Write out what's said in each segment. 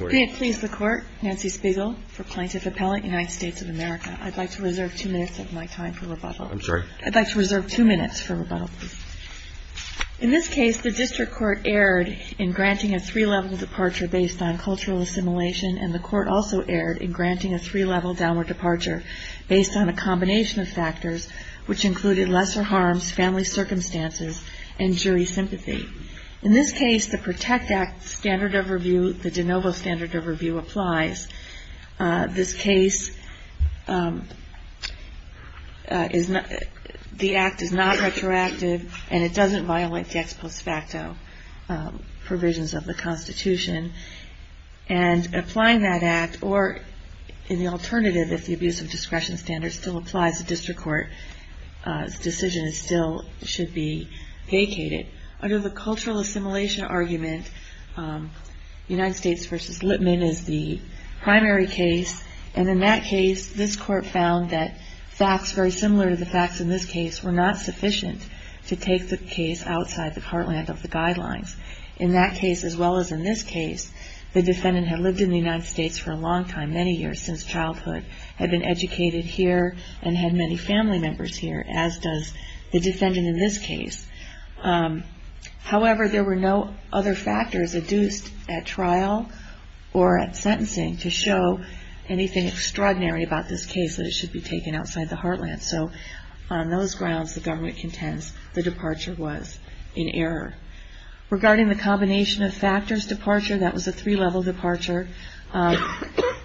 May it please the Court, Nancy Spiegel, for Plaintiff Appellate, United States of America. I'd like to reserve two minutes of my time for rebuttal. I'm sorry? I'd like to reserve two minutes for rebuttal, please. In this case, the District Court erred in granting a three-level departure based on cultural assimilation, and the Court also erred in granting a three-level downward departure based on a combination of factors which included lesser harms, family circumstances, and jury sympathy. In this case, the PROTECT Act standard overview, the de novo standard overview, applies. This case, the Act is not retroactive, and it doesn't violate the ex post facto provisions of the Constitution. And applying that Act, or in the alternative, if the abuse of discretion standard still applies, the District Court's decision still should be vacated. Under the cultural assimilation argument, United States v. Lipman is the primary case, and in that case, this Court found that facts very similar to the facts in this case were not sufficient to take the case outside the heartland of the guidelines. In that case, as well as in this case, the defendant had lived in the United States for a long time, many years, since childhood, had been educated here, and had many family members here, as does the defendant in this case. However, there were no other factors adduced at trial or at sentencing to show anything extraordinary about this case that it should be taken outside the heartland. So on those grounds, the government contends the departure was in error. Regarding the combination of factors departure, that was a three-level departure.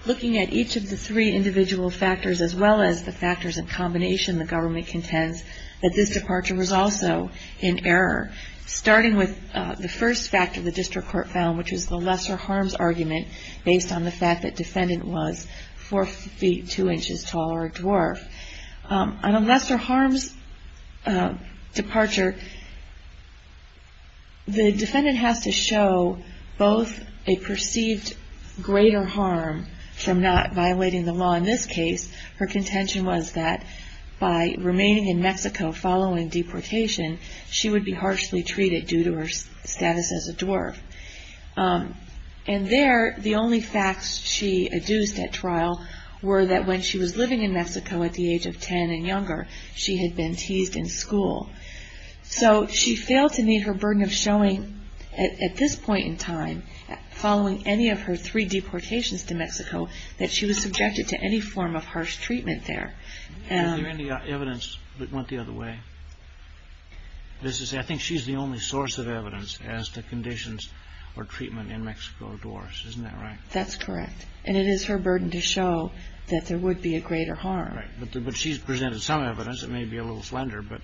Looking at each of the three individual factors, as well as the factors in combination, the government contends that this departure was also in error, starting with the first factor the District Court found, which was the lesser harms argument, based on the fact that defendant was 4 feet 2 inches tall or a dwarf. On a lesser harms departure, the defendant has to show both a perceived greater harm from not violating the law in this case. Her contention was that by remaining in Mexico following deportation, she would be harshly treated due to her status as a dwarf. And there, the only facts she adduced at trial were that when she was living in Mexico at the age of 10 and younger, she had been teased in school. So she failed to meet her burden of showing, at this point in time, following any of her three deportations to Mexico, that she was subjected to any form of harsh treatment there. Is there any evidence that went the other way? I think she's the only source of evidence as to conditions or treatment in Mexico of dwarfs. Isn't that right? That's correct. And it is her burden to show that there would be a greater harm. Right. But she's presented some evidence. It may be a little slender. But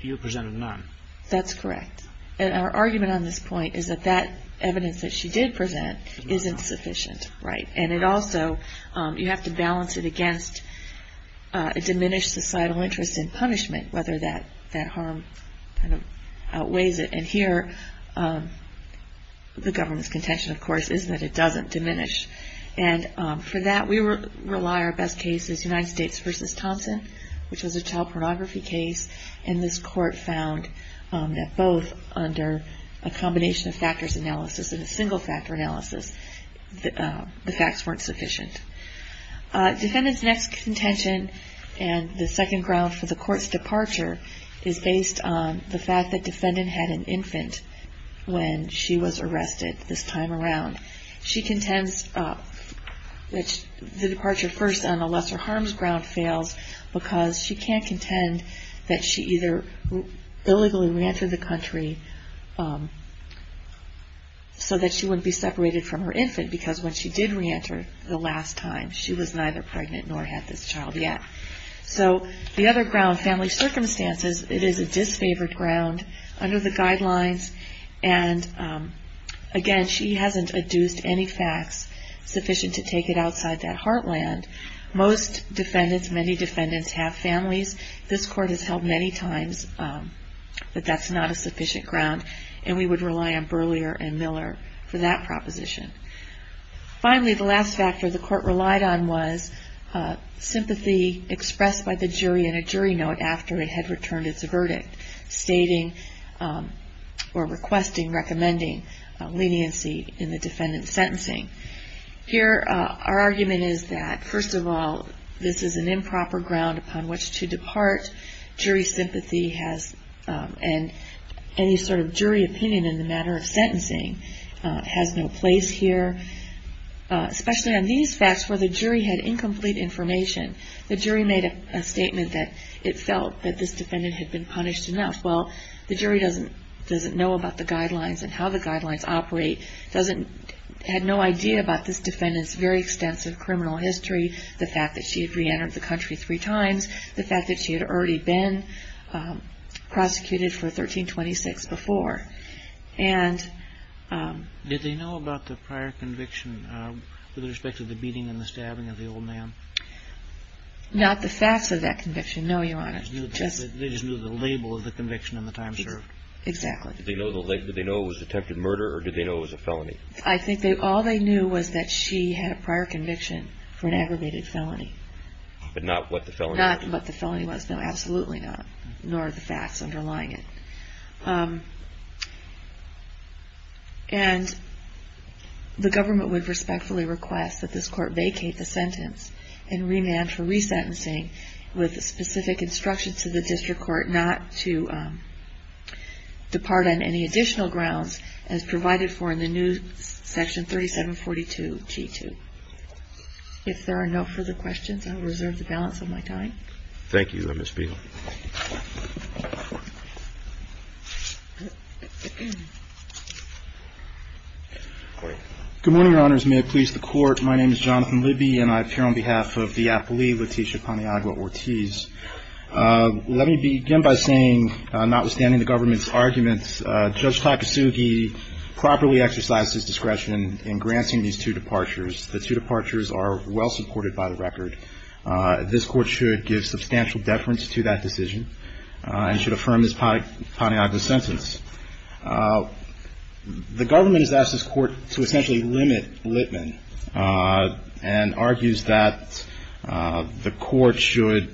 you presented none. That's correct. And our argument on this point is that that evidence that she did present isn't sufficient. Right. And it also, you have to balance it against a diminished societal interest in punishment, whether that harm outweighs it. And here, the government's contention, of course, is that it doesn't diminish. And for that, we rely on our best cases, United States v. Thompson, which was a child pornography case. And this court found that both under a combination of factors analysis and a single factor analysis, the facts weren't sufficient. Defendant's next contention, and the second ground for the court's departure, is based on the fact that defendant had an infant when she was arrested this time around. She contends that the departure first on a lesser harms ground fails because she can't contend that she either illegally reentered the country so that she wouldn't be separated from her infant, because when she did reenter the last time, she was neither pregnant nor had this child yet. So the other ground, family circumstances, it is a disfavored ground under the guidelines. And again, she hasn't adduced any facts sufficient to take it outside that heartland. Most defendants, many defendants, have families. This court has held many times that that's not a sufficient ground, and we would rely on Burlier and Miller for that proposition. Finally, the last factor the court relied on was sympathy expressed by the jury in a jury note after it had returned its verdict, stating or requesting, recommending leniency in the defendant's sentencing. Here, our argument is that, first of all, this is an improper ground upon which to depart. Jury sympathy has, and any sort of jury opinion in the matter of sentencing, has no place here, especially on these facts where the jury had incomplete information. The jury made a statement that it felt that this defendant had been punished enough. Well, the jury doesn't know about the guidelines and how the guidelines operate, had no idea about this defendant's very extensive criminal history, the fact that she had reentered the country three times, the fact that she had already been prosecuted for 1326 before. Did they know about the prior conviction with respect to the beating and the stabbing of the old man? Not the facts of that conviction, no, Your Honor. They just knew the label of the conviction and the time served. Exactly. Did they know it was attempted murder, or did they know it was a felony? I think all they knew was that she had a prior conviction for an aggravated felony. But not what the felony was? Not what the felony was, no, absolutely not, nor the facts underlying it. And the government would respectfully request that this court vacate the sentence and remand for resentencing with specific instructions to the district court not to depart on any additional grounds as provided for in the new Section 3742-T2. If there are no further questions, I will reserve the balance of my time. Thank you, Ms. Beagle. Good morning, Your Honors. May it please the Court, my name is Jonathan Libby, and I appear on behalf of the appleee, Leticia Paniagua-Ortiz. Let me begin by saying, notwithstanding the government's arguments, Judge Takasugi properly exercises discretion in granting these two departures. The two departures are well supported by the record. This Court should give substantial deference to that decision and should affirm this Paniagua sentence. The government has asked this Court to essentially limit Litman and argues that the Court should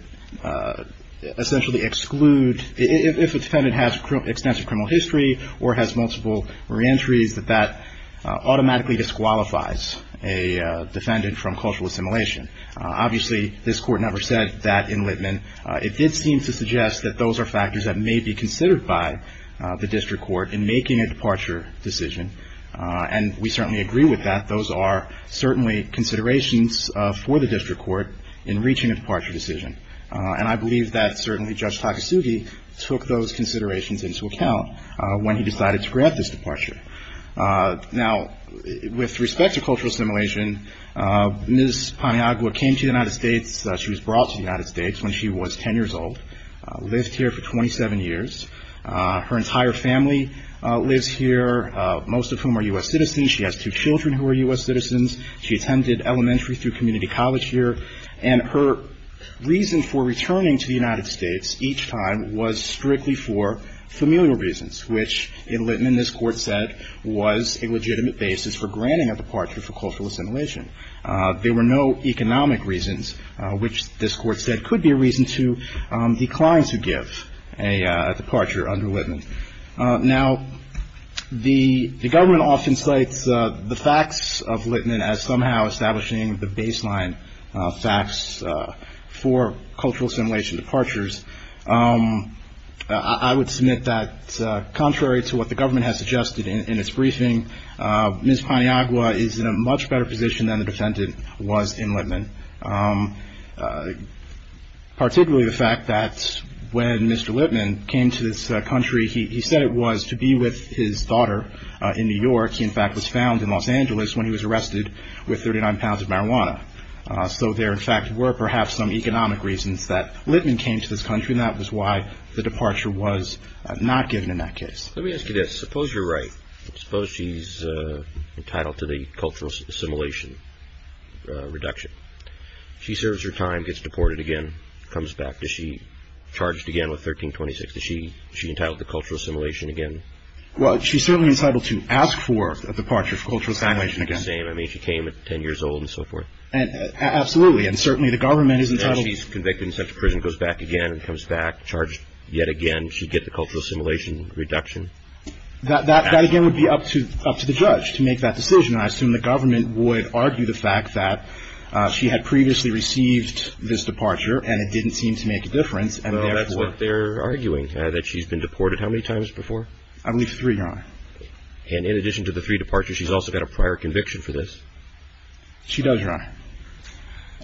essentially exclude, if a defendant has extensive criminal history or has multiple reentries, that that automatically disqualifies a defendant from cultural assimilation. Obviously, this Court never said that in Litman. It did seem to suggest that those are factors that may be considered by the District Court in making a departure decision, and we certainly agree with that. Those are certainly considerations for the District Court in reaching a departure decision, and I believe that certainly Judge Takasugi took those considerations into account when he decided to grant this departure. Now, with respect to cultural assimilation, Ms. Paniagua came to the United States. She was brought to the United States when she was 10 years old, lived here for 27 years. Her entire family lives here, most of whom are U.S. citizens. She has two children who are U.S. citizens. She attended elementary through community college here. And her reason for returning to the United States each time was strictly for familial reasons, which in Litman, this Court said, was a legitimate basis for granting a departure for cultural assimilation. There were no economic reasons, which this Court said could be a reason to decline to give a departure under Litman. Now, the government often cites the facts of Litman as somehow establishing the baseline facts for cultural assimilation departures. I would submit that contrary to what the government has suggested in its briefing, Ms. Paniagua is in a much better position than the defendant was in Litman, particularly the fact that when Mr. Litman came to this country, he said it was to be with his daughter in New York. He, in fact, was found in Los Angeles when he was arrested with 39 pounds of marijuana. So there, in fact, were perhaps some economic reasons that Litman came to this country, and that was why the departure was not given in that case. Let me ask you this. Suppose you're right. Suppose she's entitled to the cultural assimilation reduction. She serves her time, gets deported again, comes back. Is she charged again with 1326? Is she entitled to cultural assimilation again? Well, she's certainly entitled to ask for a departure for cultural assimilation again. The same. I mean, she came at 10 years old and so forth. Absolutely. And certainly the government is entitled... Now she's convicted and sent to prison, goes back again and comes back, charged yet again. And she'd get the cultural assimilation reduction. That again would be up to the judge to make that decision. I assume the government would argue the fact that she had previously received this departure and it didn't seem to make a difference, and therefore... Well, that's what they're arguing, that she's been deported how many times before? I believe three, Your Honor. And in addition to the three departures, she's also got a prior conviction for this? She does, Your Honor.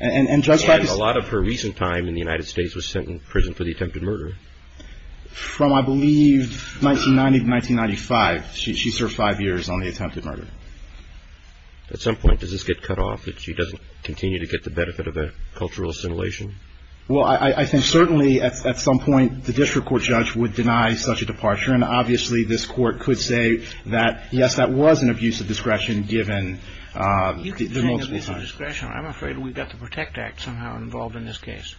And a lot of her recent time in the United States was sent in prison for the attempted murder. From, I believe, 1990 to 1995, she served five years on the attempted murder. At some point, does this get cut off, that she doesn't continue to get the benefit of a cultural assimilation? Well, I think certainly at some point the district court judge would deny such a departure. And obviously this court could say that, yes, that was an abuse of discretion given the multiple times. I'm afraid we've got the PROTECT Act somehow involved in this case.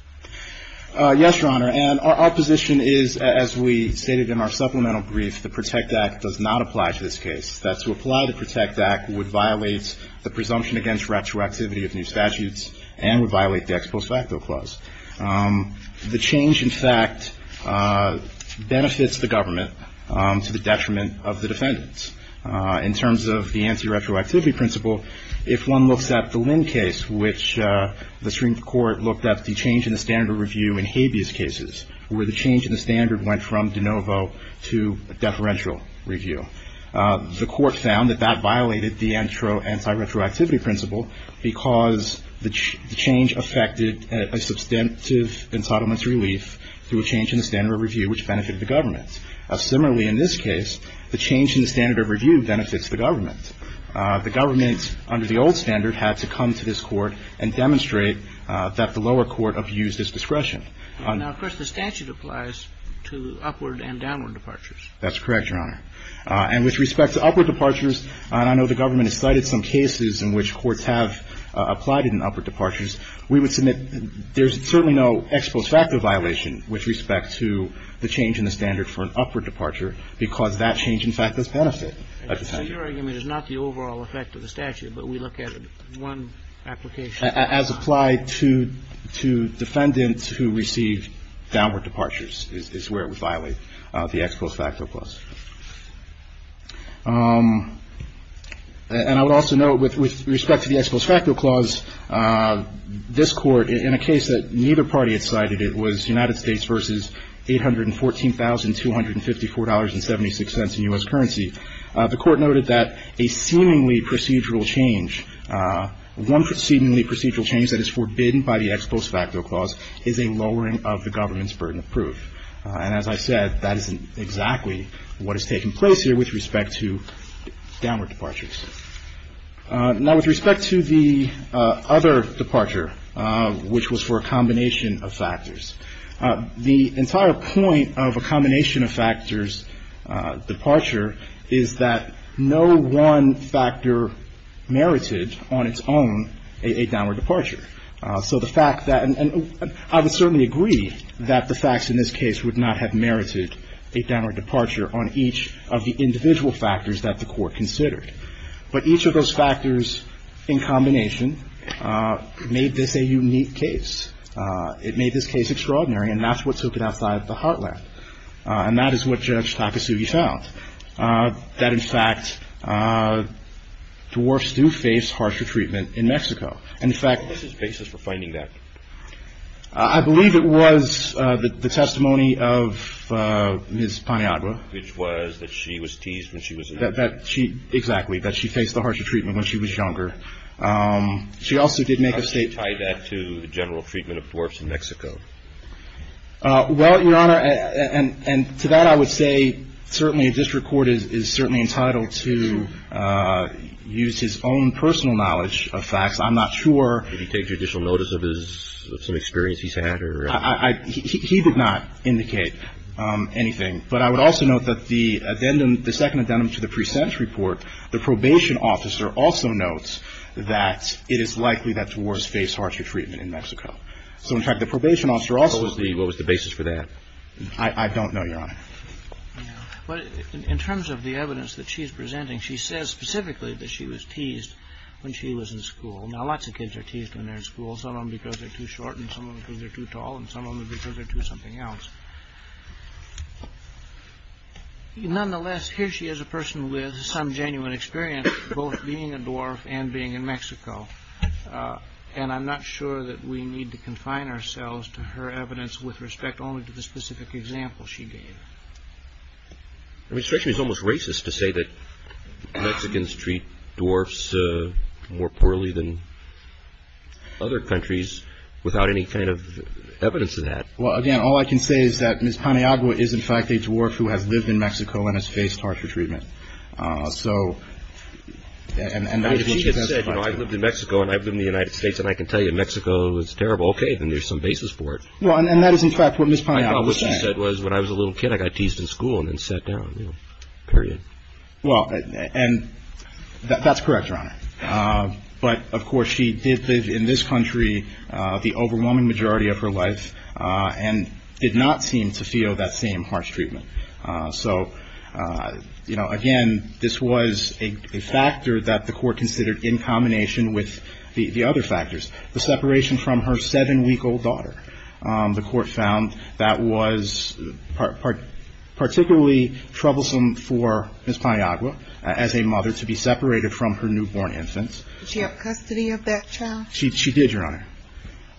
Yes, Your Honor. And our position is, as we stated in our supplemental brief, the PROTECT Act does not apply to this case. That to apply the PROTECT Act would violate the presumption against retroactivity of new statutes and would violate the ex post facto clause. The change, in fact, benefits the government to the detriment of the defendants. In terms of the anti-retroactivity principle, if one looks at the Lynn case, which the Supreme Court looked at the change in the standard of review in Habeas cases, where the change in the standard went from de novo to deferential review, the court found that that violated the anti-retroactivity principle because the change affected a substantive ensettlement relief through a change in the standard of review, which benefited the government. Similarly, in this case, the change in the standard of review benefits the government. The government, under the old standard, had to come to this Court and demonstrate that the lower court abused its discretion. Now, of course, the statute applies to upward and downward departures. That's correct, Your Honor. And with respect to upward departures, and I know the government has cited some cases in which courts have applied in upward departures, we would submit there's certainly no ex post facto violation with respect to the change in the standard for an upward It's not the overall effect of the statute, but we look at one application. As applied to defendants who receive downward departures is where it would violate the ex post facto clause. And I would also note, with respect to the ex post facto clause, this Court, in a case that neither party had cited, it was United States v. $814,254.76 in U.S. currency. The Court noted that a seemingly procedural change, one seemingly procedural change that is forbidden by the ex post facto clause is a lowering of the government's burden of proof. And as I said, that isn't exactly what is taking place here with respect to downward departures. Now, with respect to the other departure, which was for a combination of factors, the entire point of a combination of factors departure is that no one factor merited on its own a downward departure. So the fact that — and I would certainly agree that the facts in this case would not have merited a downward departure on each of the individual factors that the Court considered. But each of those factors in combination made this a unique case. It made this case extraordinary. And that's what took it outside the heartland. And that is what Judge Takasugi found, that, in fact, dwarfs do face harsher treatment in Mexico. And, in fact — What was his basis for finding that? I believe it was the testimony of Ms. Paniagua. Which was that she was teased when she was younger. Exactly. That she faced the harsher treatment when she was younger. She also did make a statement — Well, Your Honor, and to that I would say certainly a district court is certainly entitled to use his own personal knowledge of facts. I'm not sure — Did he take judicial notice of some experience he's had? He did not indicate anything. But I would also note that the second addendum to the pre-sentence report, the probation officer also notes that it is likely that dwarfs face harsher treatment in Mexico. So, in fact, the probation officer also — What was the basis for that? I don't know, Your Honor. In terms of the evidence that she's presenting, she says specifically that she was teased when she was in school. Now, lots of kids are teased when they're in school. Some of them because they're too short, and some of them because they're too tall, and some of them because they're too something else. Nonetheless, here she is a person with some genuine experience, both being a dwarf and being in Mexico, and I'm not sure that we need to confine ourselves to her evidence with respect only to the specific example she gave. It's almost racist to say that Mexicans treat dwarfs more poorly than other countries without any kind of evidence of that. Well, again, all I can say is that Ms. Paniagua is, in fact, a dwarf who has lived in Mexico and has faced harsher treatment. So — If she had said, you know, I've lived in Mexico and I've lived in the United States and I can tell you Mexico is terrible, okay, then there's some basis for it. Well, and that is, in fact, what Ms. Paniagua said. I thought what she said was when I was a little kid I got teased in school and then sat down, you know, period. Well, and that's correct, Your Honor. But, of course, she did live in this country the overwhelming majority of her life and did not seem to feel that same harsh treatment. So, you know, again, this was a factor that the court considered in combination with the other factors, the separation from her seven-week-old daughter. The court found that was particularly troublesome for Ms. Paniagua as a mother to be separated from her newborn infants. Did she have custody of that child? She did, Your Honor.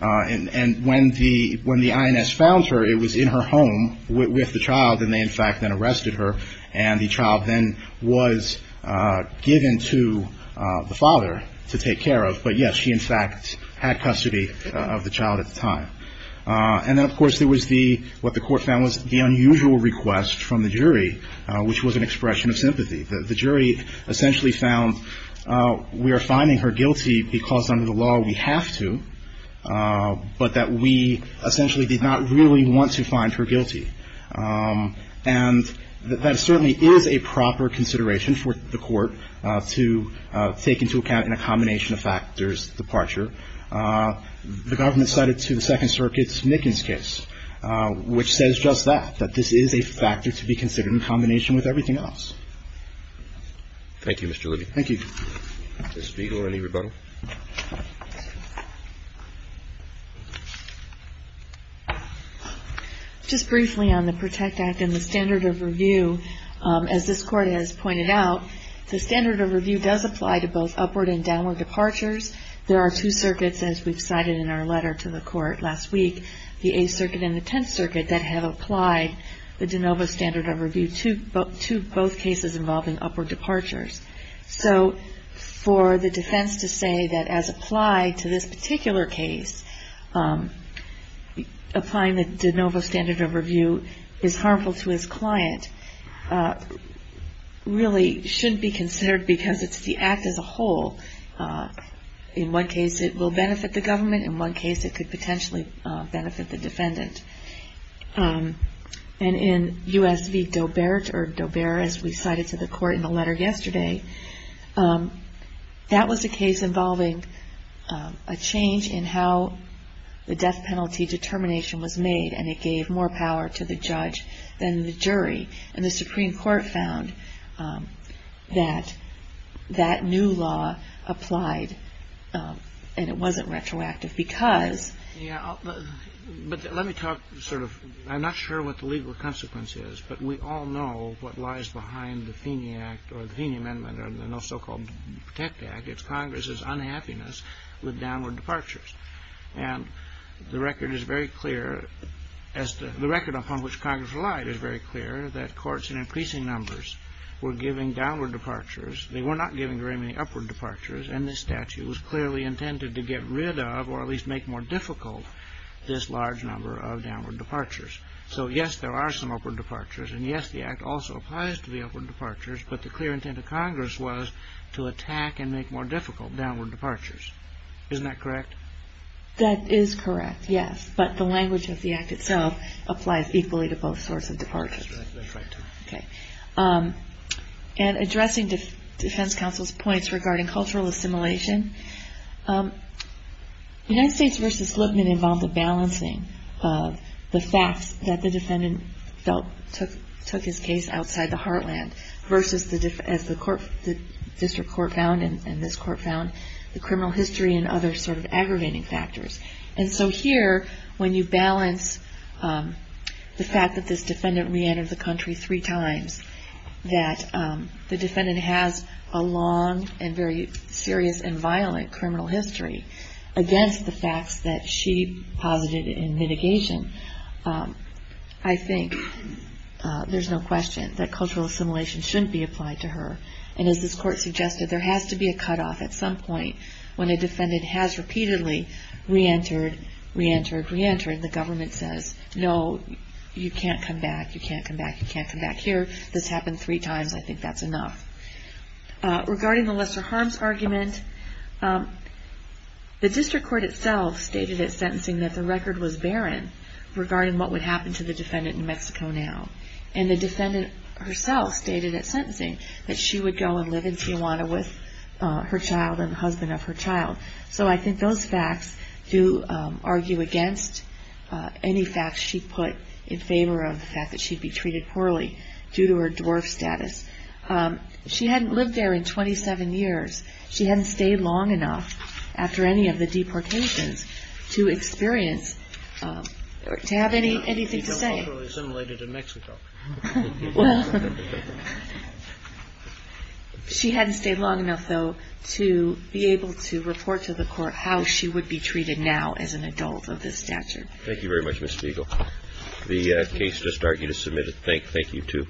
And when the INS found her, it was in her home with the child, and they, in fact, then arrested her. And the child then was given to the father to take care of. But, yes, she, in fact, had custody of the child at the time. And then, of course, there was what the court found was the unusual request from the jury, which was an expression of sympathy. The jury essentially found we are finding her guilty because under the law we have to, but that we essentially did not really want to find her guilty. And that certainly is a proper consideration for the court to take into account in a combination of factors, departure. The government cited to the Second Circuit's Nickens case, which says just that, that this is a factor to be considered in combination with everything else. Thank you, Mr. Libby. Thank you. Ms. Spiegel, any rebuttal? Just briefly on the PROTECT Act and the standard of review, as this Court has pointed out, the standard of review does apply to both upward and downward departures. There are two circuits, as we've cited in our letter to the Court last week, the Eighth Circuit and the Tenth Circuit, that have applied the de novo standard of review to both cases involving upward departures. So for the defense to say that as applied to this particular case, applying the de novo standard of review is harmful to his client really shouldn't be considered because it's the Act as a whole. In one case, it will benefit the government. In one case, it could potentially benefit the defendant. And in U.S. v. Dobert, or Dobert as we cited to the Court in the letter yesterday, that was a case involving a change in how the death penalty determination was made, and it gave more power to the judge than the jury. And the Supreme Court found that that new law applied, and it wasn't retroactive because... Yeah, but let me talk sort of... I'm not sure what the legal consequence is, but we all know what lies behind the Feeney Act or the Feeney Amendment or the so-called PROTECT Act. It's Congress's unhappiness with downward departures. And the record is very clear... The record upon which Congress relied is very clear, that courts in increasing numbers were giving downward departures. They were not giving very many upward departures, and this statute was clearly intended to get rid of or at least make more difficult this large number of downward departures. So yes, there are some upward departures, and yes, the Act also applies to the upward departures, but the clear intent of Congress was to attack and make more difficult downward departures. Isn't that correct? That is correct, yes. But the language of the Act itself applies equally to both sorts of departures. That's right. Okay. And addressing defense counsel's points regarding cultural assimilation, United States v. Lipman involved a balancing of the facts that the defendant felt took his case outside the heartland versus, as the district court found and this court found, the criminal history and other sort of aggravating factors. And so here, when you balance the fact that this defendant reentered the country three times, that the defendant has a long and very serious and violent criminal history against the facts that she posited in mitigation, I think there's no question that cultural assimilation shouldn't be applied to her. And as this court suggested, there has to be a cutoff at some point when a defendant has repeatedly reentered, reentered, reentered, and the government says, no, you can't come back, you can't come back, you can't come back here. This happened three times. I think that's enough. Regarding the lesser harms argument, the district court itself stated at sentencing that the record was barren regarding what would happen to the defendant in Mexico now. And the defendant herself stated at sentencing that she would go and live in Tijuana with her child and the husband of her child. So I think those facts do argue against any facts she put in favor of the fact that she'd be treated poorly due to her dwarf status. She hadn't lived there in 27 years. She hadn't stayed long enough after any of the deportations to experience, to have anything to say. She was culturally assimilated in Mexico. Well, she hadn't stayed long enough, though, to be able to report to the court how she would be treated now as an adult of this stature. Thank you very much, Ms. Spiegel. The case just argued is submitted. Thank you, too.